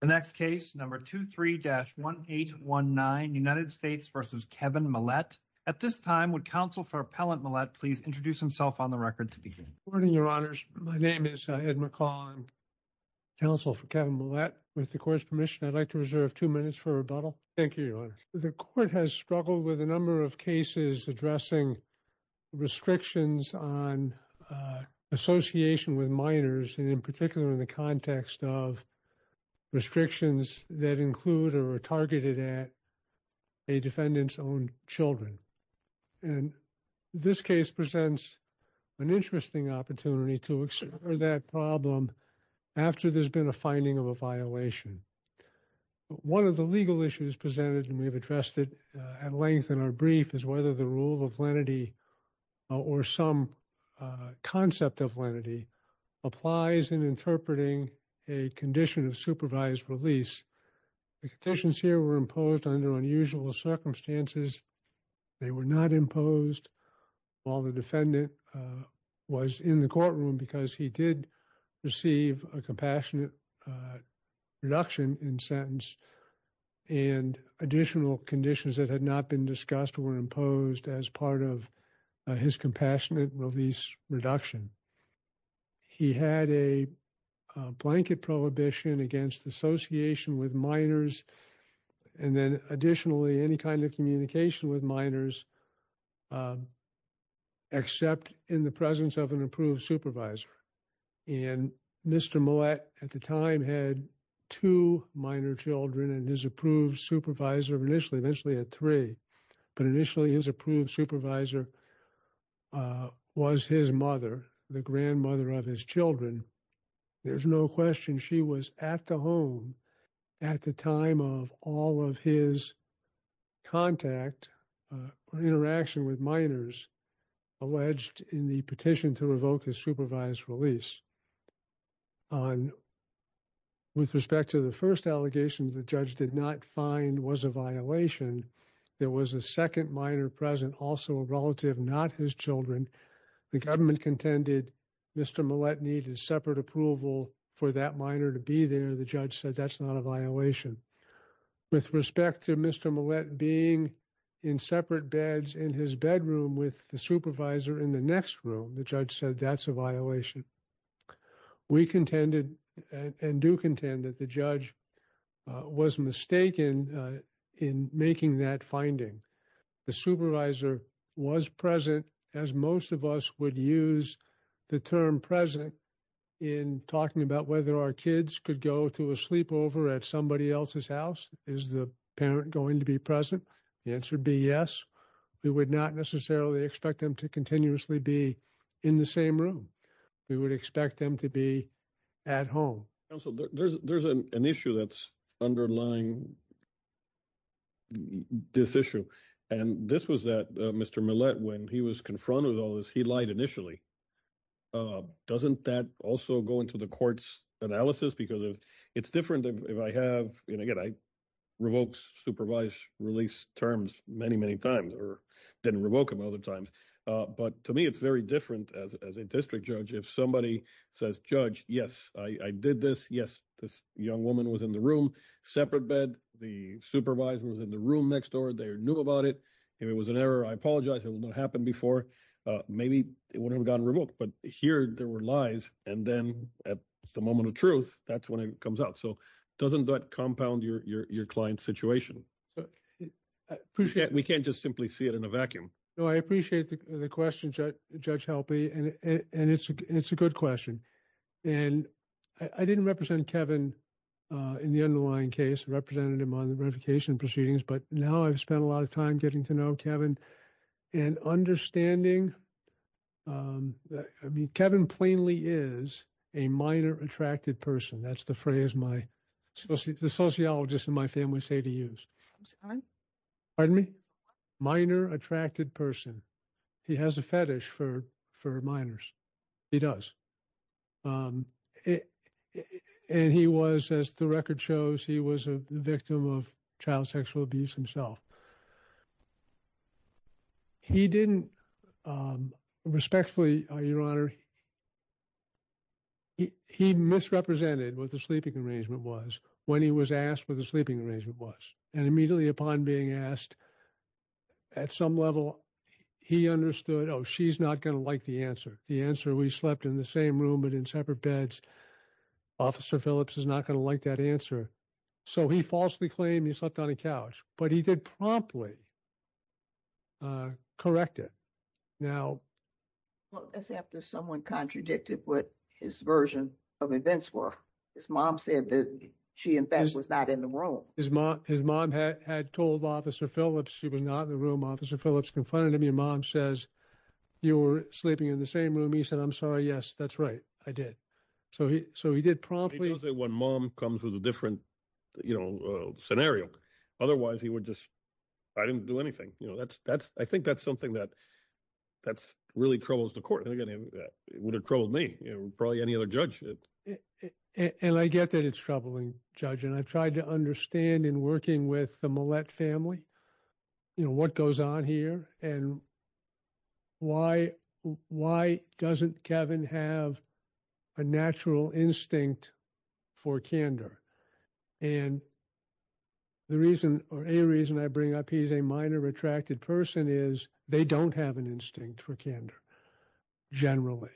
The next case, number 23-1819, United States v. Kevin Millette. At this time, would Counsel for Appellant Millette please introduce himself on the record to begin? Good morning, Your Honors. My name is Ed McCall. I'm Counsel for Kevin Millette. With the Court's permission, I'd like to reserve two minutes for rebuttal. Thank you, Your Honors. The Court has struggled with a number of cases addressing restrictions on association with minors, and in particular, in the context of restrictions that include or are targeted at a defendant's own children. And this case presents an interesting opportunity to explore that problem after there's been a finding of a violation. One of the legal issues presented, and we've addressed it at length in our brief, is whether the rule of lenity or some concept of lenity applies in interpreting a condition of supervised release. The conditions here were imposed under unusual circumstances. They were not imposed while the defendant was in the courtroom because he did receive a compassionate release reduction in sentence, and additional conditions that had not been discussed were imposed as part of his compassionate release reduction. He had a blanket prohibition against association with minors, and then additionally, any kind of communication with minors except in the presence of an approved supervisor. And Mr. Millette at the time had two minor children, and his approved supervisor initially had three. But initially, his approved supervisor was his mother, the grandmother of his children. There's no question she was at the home at the time of all of his contact or interaction with minors alleged in the petition to revoke his supervised release. With respect to the first allegation, the judge did not find was a violation. There was a second minor present, also a relative, not his children. The government contended Mr. Millette needed separate approval for that minor to be there. The judge said that's not a violation. With respect to Mr. Millette being in separate beds in his bedroom with the supervisor in the next room, the judge said that's a violation. We contended and do contend that the judge was mistaken in making that finding. The supervisor was present, as most of us would use the term present in talking about whether our kids could go to a sleepover at somebody else's house. Is the parent going to be present? The answer would be yes. We would not necessarily expect them to continuously be in the same room. We would expect them to be at home. Counsel, there's an issue that's underlying this issue. And this was that Mr. Millette, when he was confronted with all this, he lied initially. Doesn't that also go into the court's analysis? Because it's different if I have, and again, I revoke supervised release terms many, many times or didn't revoke them other times. But to me, it's very different as a district judge. If somebody says, judge, yes, I did this. Yes, this young woman was in the room, separate bed. The supervisor was in the room next door. They knew about it. If it was an error, I apologize. It will not happen before. Maybe it would have gone remote, but here there were lies. And then at the moment of truth, that's when it comes out. So doesn't that compound your client's situation? We can't just simply see it in a vacuum. No, I appreciate the question, Judge Helpe. And it's a good question. And I didn't represent Kevin in the underlying case, representative modification proceedings. But now I've spent a lot of time getting to know Kevin. And understanding, I mean, Kevin plainly is a minor attracted person. That's the phrase the sociologists in my family say to use. Pardon me? Minor attracted person. He has a fetish for minors. He does. And he was, as the record shows, he was a victim of a misrepresentation. He didn't respectfully, Your Honor. He misrepresented what the sleeping arrangement was when he was asked what the sleeping arrangement was. And immediately upon being asked at some level, he understood, oh, she's not going to like the answer. The answer, we slept in the same room, but in separate beds. Officer Phillips is not going to like that answer. So he falsely claimed he slept on a couch. But he did promptly correct it. Now. Well, that's after someone contradicted what his version of events were. His mom said that she, in fact, was not in the room. His mom had told Officer Phillips she was not in the room. Officer Phillips confronted him. Your mom says you were sleeping in the same room. He said, I'm sorry. Yes, that's right. I did. So he so he did promptly. He does it when mom comes with a different, you know, scenario. Otherwise, he would just I didn't do anything. You know, that's that's I think that's something that that's really troubles the court. And again, it would have troubled me, probably any other judge. And I get that it's troubling, Judge. And I tried to understand in working with the Millett family, you know, what goes on here and why? Why doesn't Kevin have a natural instinct for candor? And the reason or a reason I bring up he's a minor retracted person is they don't have an instinct for candor generally.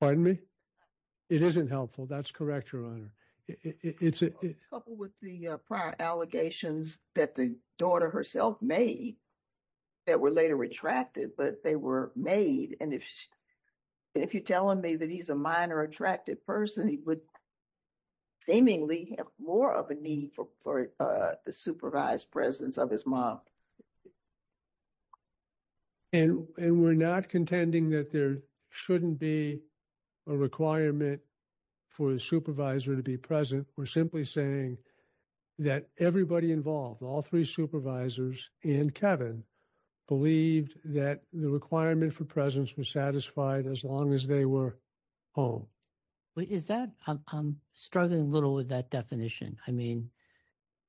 Pardon me? It isn't helpful. That's correct, Your Honor. It's a couple with the prior allegations that the that were later retracted, but they were made. And if you're telling me that he's a minor attracted person, he would seemingly have more of a need for the supervised presence of his mom. And we're not contending that there shouldn't be a requirement for the supervisor to be present. We're simply saying that everybody involved, all three supervisors and Kevin believed that the requirement for presence was satisfied as long as they were home. Is that I'm struggling a little with that definition. I mean,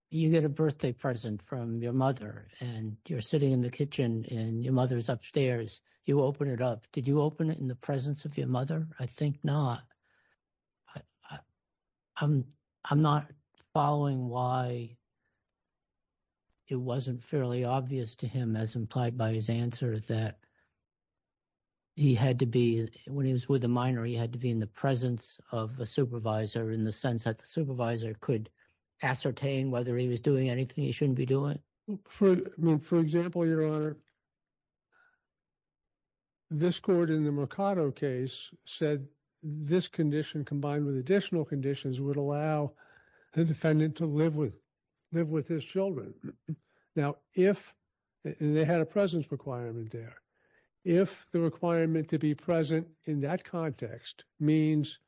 you get a birthday present from your mother and you're sitting in the kitchen and your mother's upstairs. You open it up. Did you open it in the presence of your mother? I think not. I'm not following why it wasn't fairly obvious to him as implied by his answer that he had to be when he was with a minor, he had to be in the presence of a supervisor in the sense that the supervisor could ascertain whether he was doing anything he shouldn't be For example, your honor. This court in the Mercado case said this condition combined with additional conditions would allow the defendant to live with live with his children. Now, if they had a presence requirement there, if the requirement to be present in that context means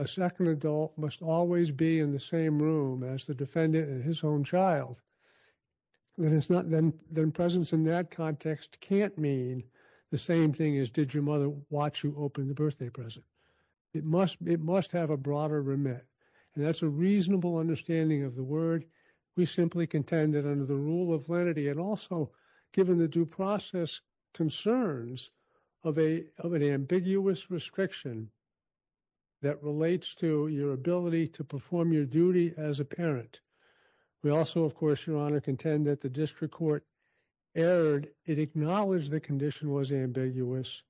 a second adult must always be in the same room as the defendant and his own child, then presence in that context can't mean the same thing as did your mother watch you open the birthday present. It must have a broader remit. And that's a reasonable understanding of the word. We simply contend that under the rule of lenity and also given the due process concerns of an ambiguous restriction that relates to your to perform your duty as a parent. We also, of course, your honor, contend that the district court erred. It acknowledged the condition was ambiguous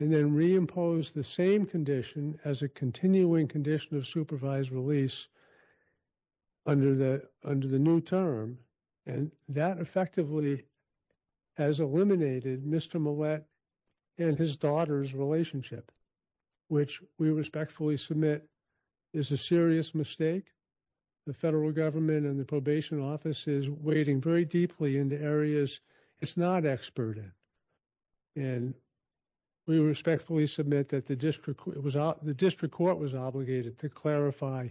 and then reimposed the same condition as a continuing condition of supervised release under the new term. And that effectively has eliminated Mr. Millett and his daughter's relationship, which we respectfully submit is a serious mistake. The federal government and the probation office is wading very deeply into areas it's not expert in. And we respectfully submit that the district court was obligated to clarify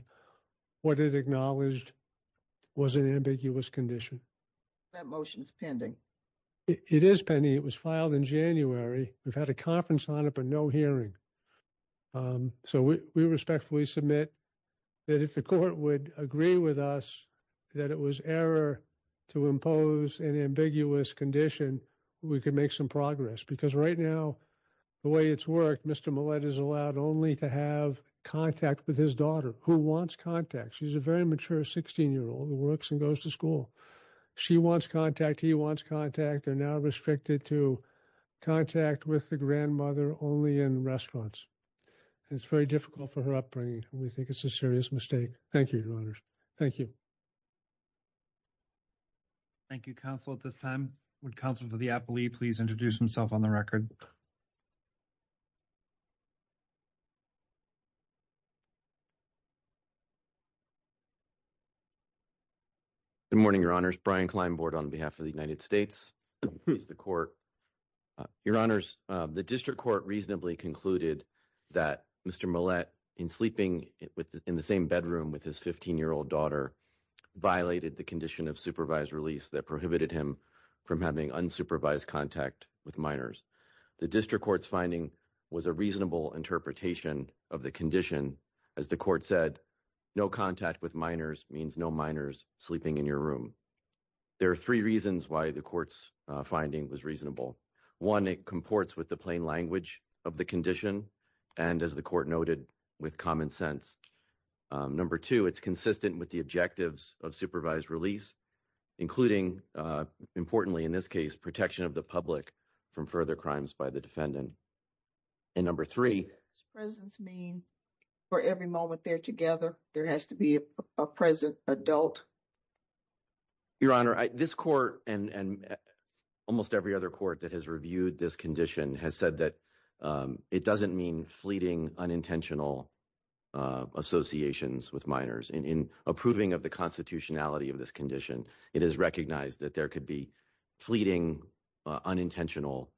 what it acknowledged was an ambiguous condition. That motion is pending. It is pending. It was filed in January. We've had a conference on it, but no hearing. So we respectfully submit that if the court would agree with us that it was error to impose an ambiguous condition, we could make some progress. Because right now, the way it's worked, Mr. Millett is allowed only to have contact with his daughter who wants contact. She's a very mature 16 year old who and goes to school. She wants contact. He wants contact. They're now restricted to contact with the grandmother only in restaurants. It's very difficult for her upbringing. We think it's a serious mistake. Thank you, your honor. Thank you. Thank you, counsel. At this time, counsel for the appellee, please introduce himself on the record. Good morning, your honors. Brian Klein, board on behalf of the United States. The court, your honors, the district court reasonably concluded that Mr. Millett in sleeping in the same bedroom with his 15 year old daughter violated the condition of supervised release that unsupervised contact with minors. The district court's finding was a reasonable interpretation of the condition. As the court said, no contact with minors means no minors sleeping in your room. There are three reasons why the court's finding was reasonable. One, it comports with the plain language of the condition. And as the court noted, with common sense. Number two, it's consistent with the objectives of supervised release, including importantly, in this case, protection of the public from further crimes by the defendant. And number three. Presence mean for every moment they're together, there has to be a present adult. Your honor, this court and almost every other court that has reviewed this condition has said that it doesn't mean fleeting, unintentional associations with minors. In approving of the constitutionality of this condition, it is recognized that there could be fleeting, unintentional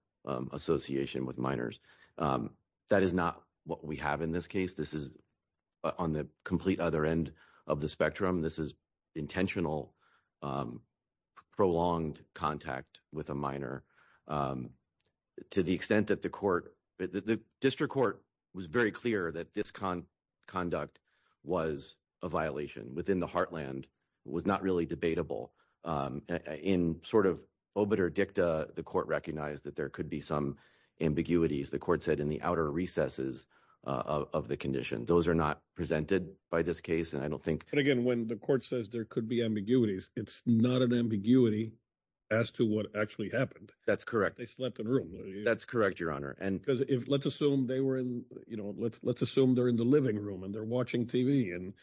association with minors. That is not what we have in this case. This is on the complete other end of the spectrum. This is intentional, prolonged contact with a minor. Um, to the extent that the court, the district court was very clear that this con conduct was a violation within the heartland was not really debatable. Um, in sort of obiter dicta, the court recognized that there could be some ambiguities. The court said in the outer recesses of the condition, those are not presented by this case. And I don't think again, when the court says there could be ambiguities, it's not an ambiguity as to what actually happened. That's correct. They slept in room. That's correct, your honor. And because if let's assume they were in, you know, let's, let's assume they're in the living room and they're watching TV and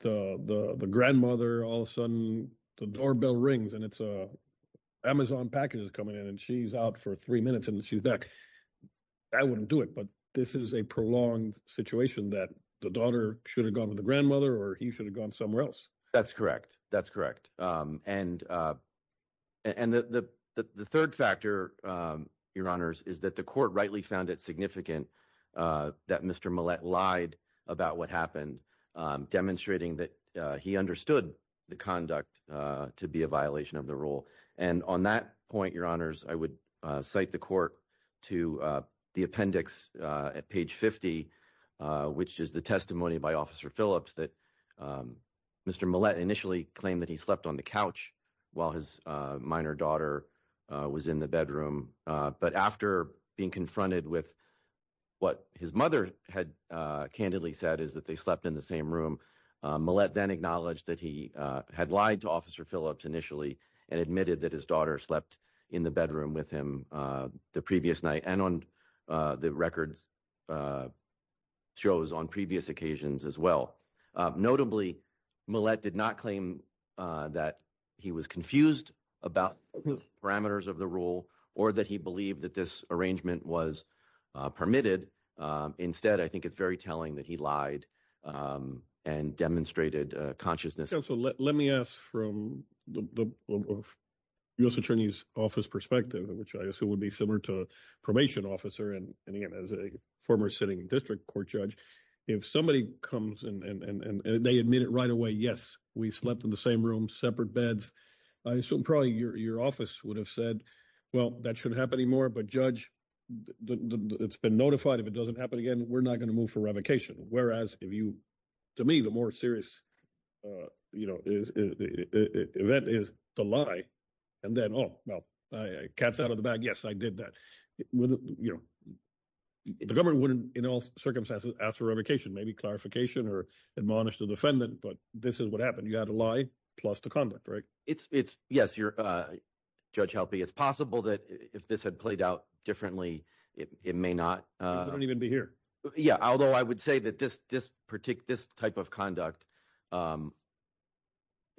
the, the, the grandmother, all of a sudden the doorbell rings and it's a Amazon packages coming in and she's out for three minutes and she's back. I wouldn't do it, but this is a prolonged situation that the daughter should have gone with the grandmother or he should have gone somewhere else. That's correct. That's correct. Um, and, uh, and the, the, the third factor, um, your honors is that the court rightly found it significant, uh, that Mr. Mallette lied about what happened, um, demonstrating that, uh, he understood the conduct, uh, to be a violation of the rule. And on that point, your honors, I would cite the court to, uh, the appendix, uh, at page 50, uh, which is the testimony by officer Phillips that, um, Mr. Mallette initially claimed that he slept on the couch while his, uh, minor daughter, uh, was in the bedroom. Uh, but after being confronted with what his mother had, uh, candidly said is that they slept in the same room, uh, Malette then acknowledged that he, uh, had lied to officer Phillips initially and admitted that his daughter slept in the bedroom with him, uh, the previous night and on, uh, the records, uh, shows on previous occasions as well. Uh, notably Malette did not claim, uh, that he was confused about the parameters of the rule or that he believed that this arrangement was, uh, permitted. Um, instead, I think it's very telling that he lied, um, and demonstrated a consciousness. Let me ask from the U.S. attorney's office perspective, which I assume would be similar to a probation officer. And they admit it right away. Yes, we slept in the same room, separate beds. I assume probably your, your office would have said, well, that shouldn't happen anymore. But judge, it's been notified. If it doesn't happen again, we're not going to move for revocation. Whereas if you, to me, the more serious, uh, you know, event is the lie and then, oh, well, I cats out of the bag. Yes, I did that with, you know, the government wouldn't in all circumstances ask for revocation, maybe clarification or admonish the defendant, but this is what happened. You had a lie plus the conduct, right? It's it's yes. You're a judge helping. It's possible that if this had played out differently, it may not even be here. Yeah. Although I would say that this, this particular, this type of conduct, um,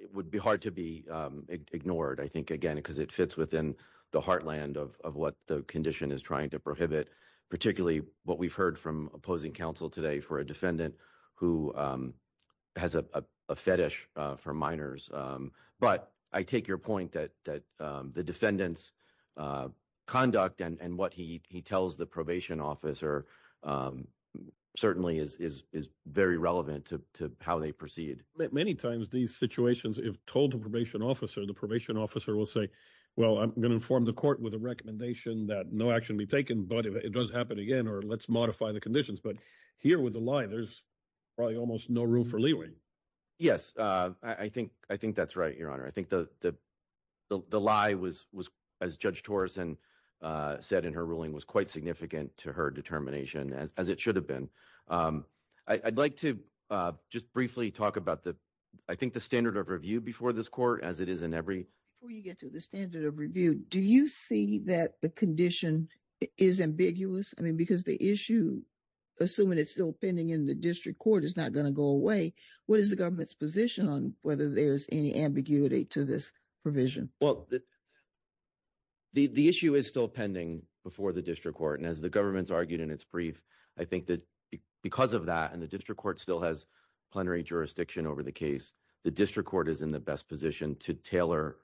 it would be hard to be, um, ignored. I think again, because it fits within the heartland of, of what the condition is trying to prohibit, particularly what we've heard from opposing counsel today for a defendant who, um, has a, a, a fetish, uh, for minors. Um, but I take your point that, that, um, the defendants, uh, conduct and, and what he, he tells the probation officer, um, certainly is, is, is very relevant to, to how they proceed. Many times these situations, if told to probation officer, the probation officer will say, well, I'm going to inform the court with a recommendation that no action be taken, but if it does happen again, or let's modify the conditions, but here with the line, there's probably almost no room for leeway. Yes. Uh, I think, I think that's right. Your honor. I think the, the, the, the lie was, was as judge Torres and, uh, said in her ruling was quite significant to her determination as, as it should have been. Um, I I'd like to, uh, just briefly talk about the, I think the standard of review before this court, as it is Before you get to the standard of review, do you see that the condition is ambiguous? I mean, because the issue, assuming it's still pending in the district court is not going to go away. What is the government's position on whether there's any ambiguity to this provision? Well, the, the, the issue is still pending before the district court. And as the government's argued in its brief, I think that because of that, and the district court still has plenary jurisdiction over the case, the district court is in the best position to tailor,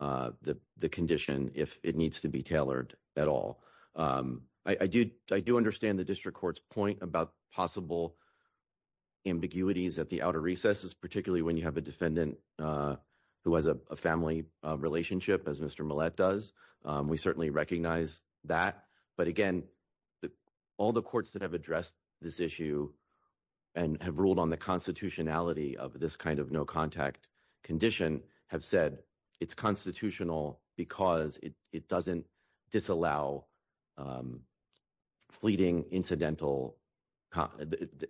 uh, the, the condition if it needs to be tailored at all. Um, I, I do, I do understand the district court's point about possible ambiguities at the outer recesses, particularly when you have a defendant, uh, who has a family relationship as Mr. Millett does. Um, we certainly recognize that, but again, the, all the courts that have addressed this issue and have ruled on the constitutionality of this kind of no contact condition have said it's constitutional because it, it doesn't disallow, um, fleeting incidental.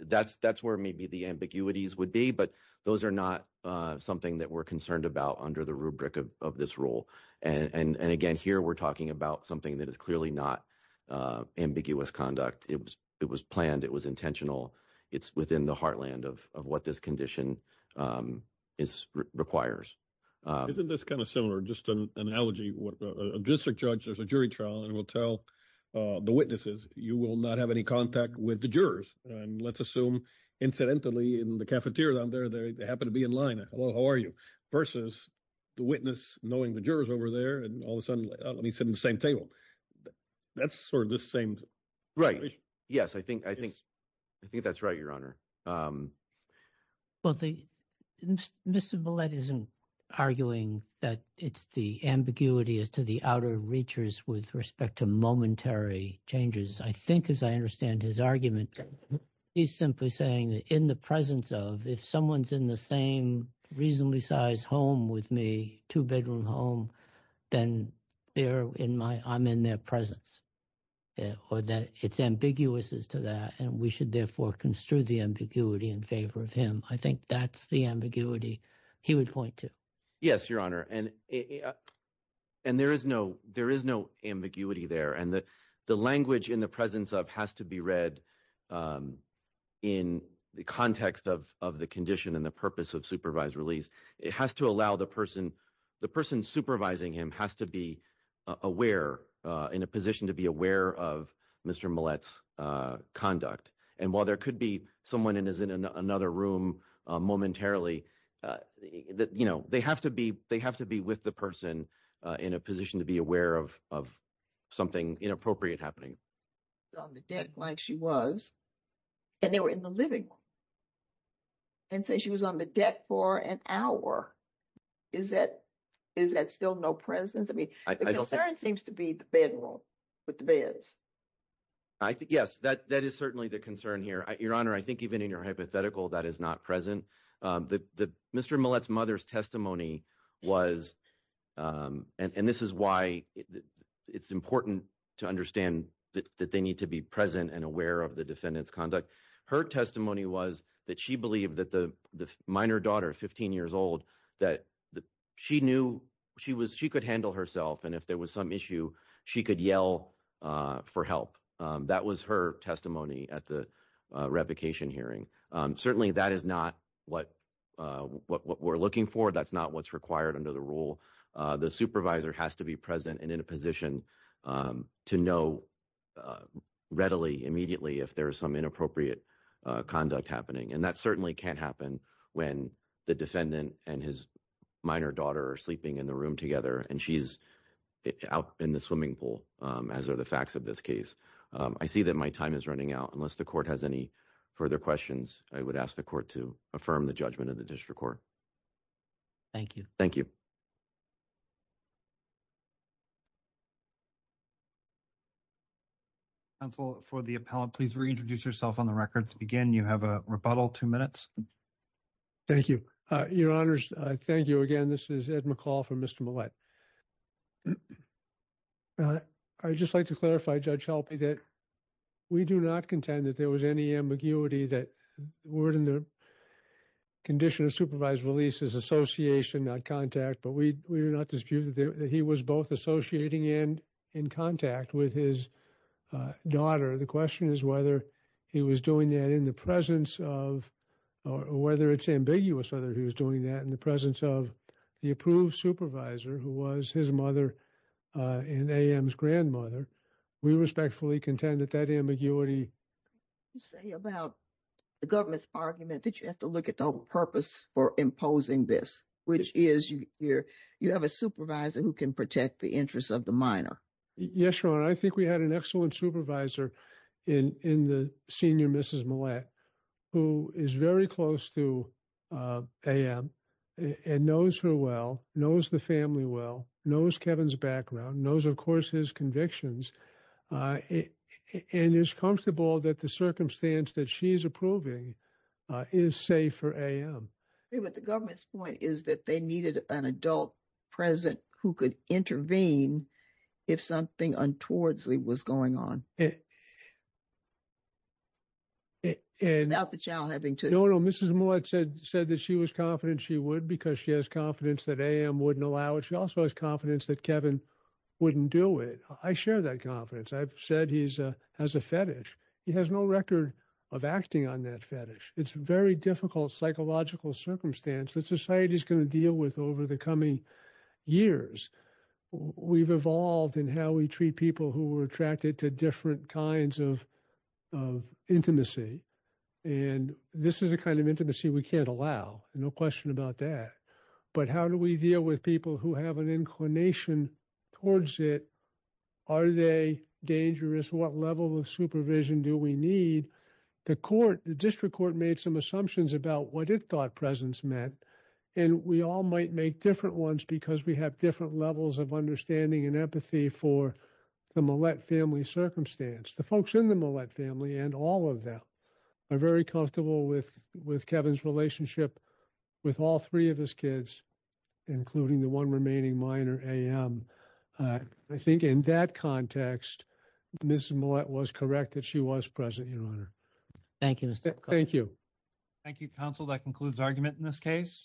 That's, that's where maybe the ambiguities would be, but those are not, uh, something that we're concerned about under the rubric of, of this rule. And, and, and here we're talking about something that is clearly not, uh, ambiguous conduct. It was, it was planned. It was intentional. It's within the heartland of, of what this condition, um, is requires. Uh, isn't this kind of similar, just an analogy, what a district judge, there's a jury trial and we'll tell, uh, the witnesses, you will not have any contact with the jurors. And let's assume incidentally in the cafeteria down there, they happen to be in line. Hello, how are you? Versus the witness knowing the jurors over there and all of a sudden, let me sit in the same table. That's sort of the same, right? Yes. I think, I think, I think that's right. Your honor. Um, well, the Mr. Millett isn't arguing that it's the ambiguity as to the outer reachers with respect to momentary changes. I think, as I understand his argument, he's simply saying that in the presence of, if someone's in the same reasonably sized home with me, two bedroom home, then they're in my, I'm in their presence or that it's ambiguous as to that. And we should therefore construe the ambiguity in favor of him. I think that's the ambiguity he would point to. Yes, your honor. And, and there is no, there is no ambiguity there. And the, the language in the presence of has to be read, um, in the context of, of the condition and the purpose of supervised release. It has to allow the person, the person supervising him has to be aware, uh, in a position to be aware of Mr. Millett's, uh, conduct. And while there could be someone in his, in another room, uh, momentarily, uh, you know, they have to be, they have to be with the person, uh, in a on the deck like she was, and they were in the living room and say she was on the deck for an hour. Is that, is that still no presence? I mean, the concern seems to be the bedroom with the beds. I think, yes, that, that is certainly the concern here. Your honor, I think even in your hypothetical, that is not present. Um, the, the Mr. Millett's mother's um, and, and this is why it's important to understand that they need to be present and aware of the defendant's conduct. Her testimony was that she believed that the minor daughter, 15 years old, that she knew she was, she could handle herself. And if there was some issue, she could yell, uh, for help. Um, that was her testimony at the, uh, revocation hearing. Um, certainly that is not what, uh, what we're looking for. That's not what's required under the rule. Uh, the supervisor has to be present and in a position, um, to know, uh, readily, immediately if there is some inappropriate, uh, conduct happening. And that certainly can't happen when the defendant and his minor daughter are sleeping in the room together and she's out in the swimming pool. Um, as are the facts of this case. Um, I see that my time is running out. Unless the court has any further questions, I would ask the court to affirm the judgment of the district court. Thank you. Thank you. Counsel for the appellant, please reintroduce yourself on the record to begin. You have a rebuttal, two minutes. Thank you. Uh, your honors, I thank you again. This is Ed McCall from Mr. Millett. Uh, I'd just like to clarify, Judge Helpe, that we do not contend that there is association, not contact, but we, we do not dispute that he was both associating and in contact with his, uh, daughter. The question is whether he was doing that in the presence of, or whether it's ambiguous, whether he was doing that in the presence of the approved supervisor who was his mother, uh, and AM's grandmother. We respectfully contend that that ambiguity. You say about the government's argument that you have to look at the purpose for imposing this, which is you're, you have a supervisor who can protect the interests of the minor. Yes, your honor. I think we had an excellent supervisor in, in the senior Mrs. Millett, who is very close to, uh, AM and knows her well, knows the family well, knows Kevin's background, knows of course his convictions, uh, and is comfortable that the circumstance that she's approving, uh, is safe for AM. But the government's point is that they needed an adult present who could intervene if something untowardly was going on. And... Without the child having to... No, no, Mrs. Millett said, said that she was confident she would because she has confidence that AM wouldn't allow it. She also has confidence that he has no record of acting on that fetish. It's a very difficult psychological circumstance that society's going to deal with over the coming years. We've evolved in how we treat people who were attracted to different kinds of, of intimacy. And this is the kind of intimacy we can't allow. No question about that. But how do we deal with people who have an inclination towards it? Are they dangerous? What level of supervision do we need? The court, the district court made some assumptions about what it thought presence meant. And we all might make different ones because we have different levels of understanding and empathy for the Millett family circumstance. The folks in the Millett family and all of them are very comfortable with, with Kevin's relationship with all three of his kids, including the one remaining minor, AM. I think in that context, Mrs. Millett was correct that she was present, Your Honor. Thank you, Mr. McCarty. Thank you. Thank you, counsel. That concludes argument in this case.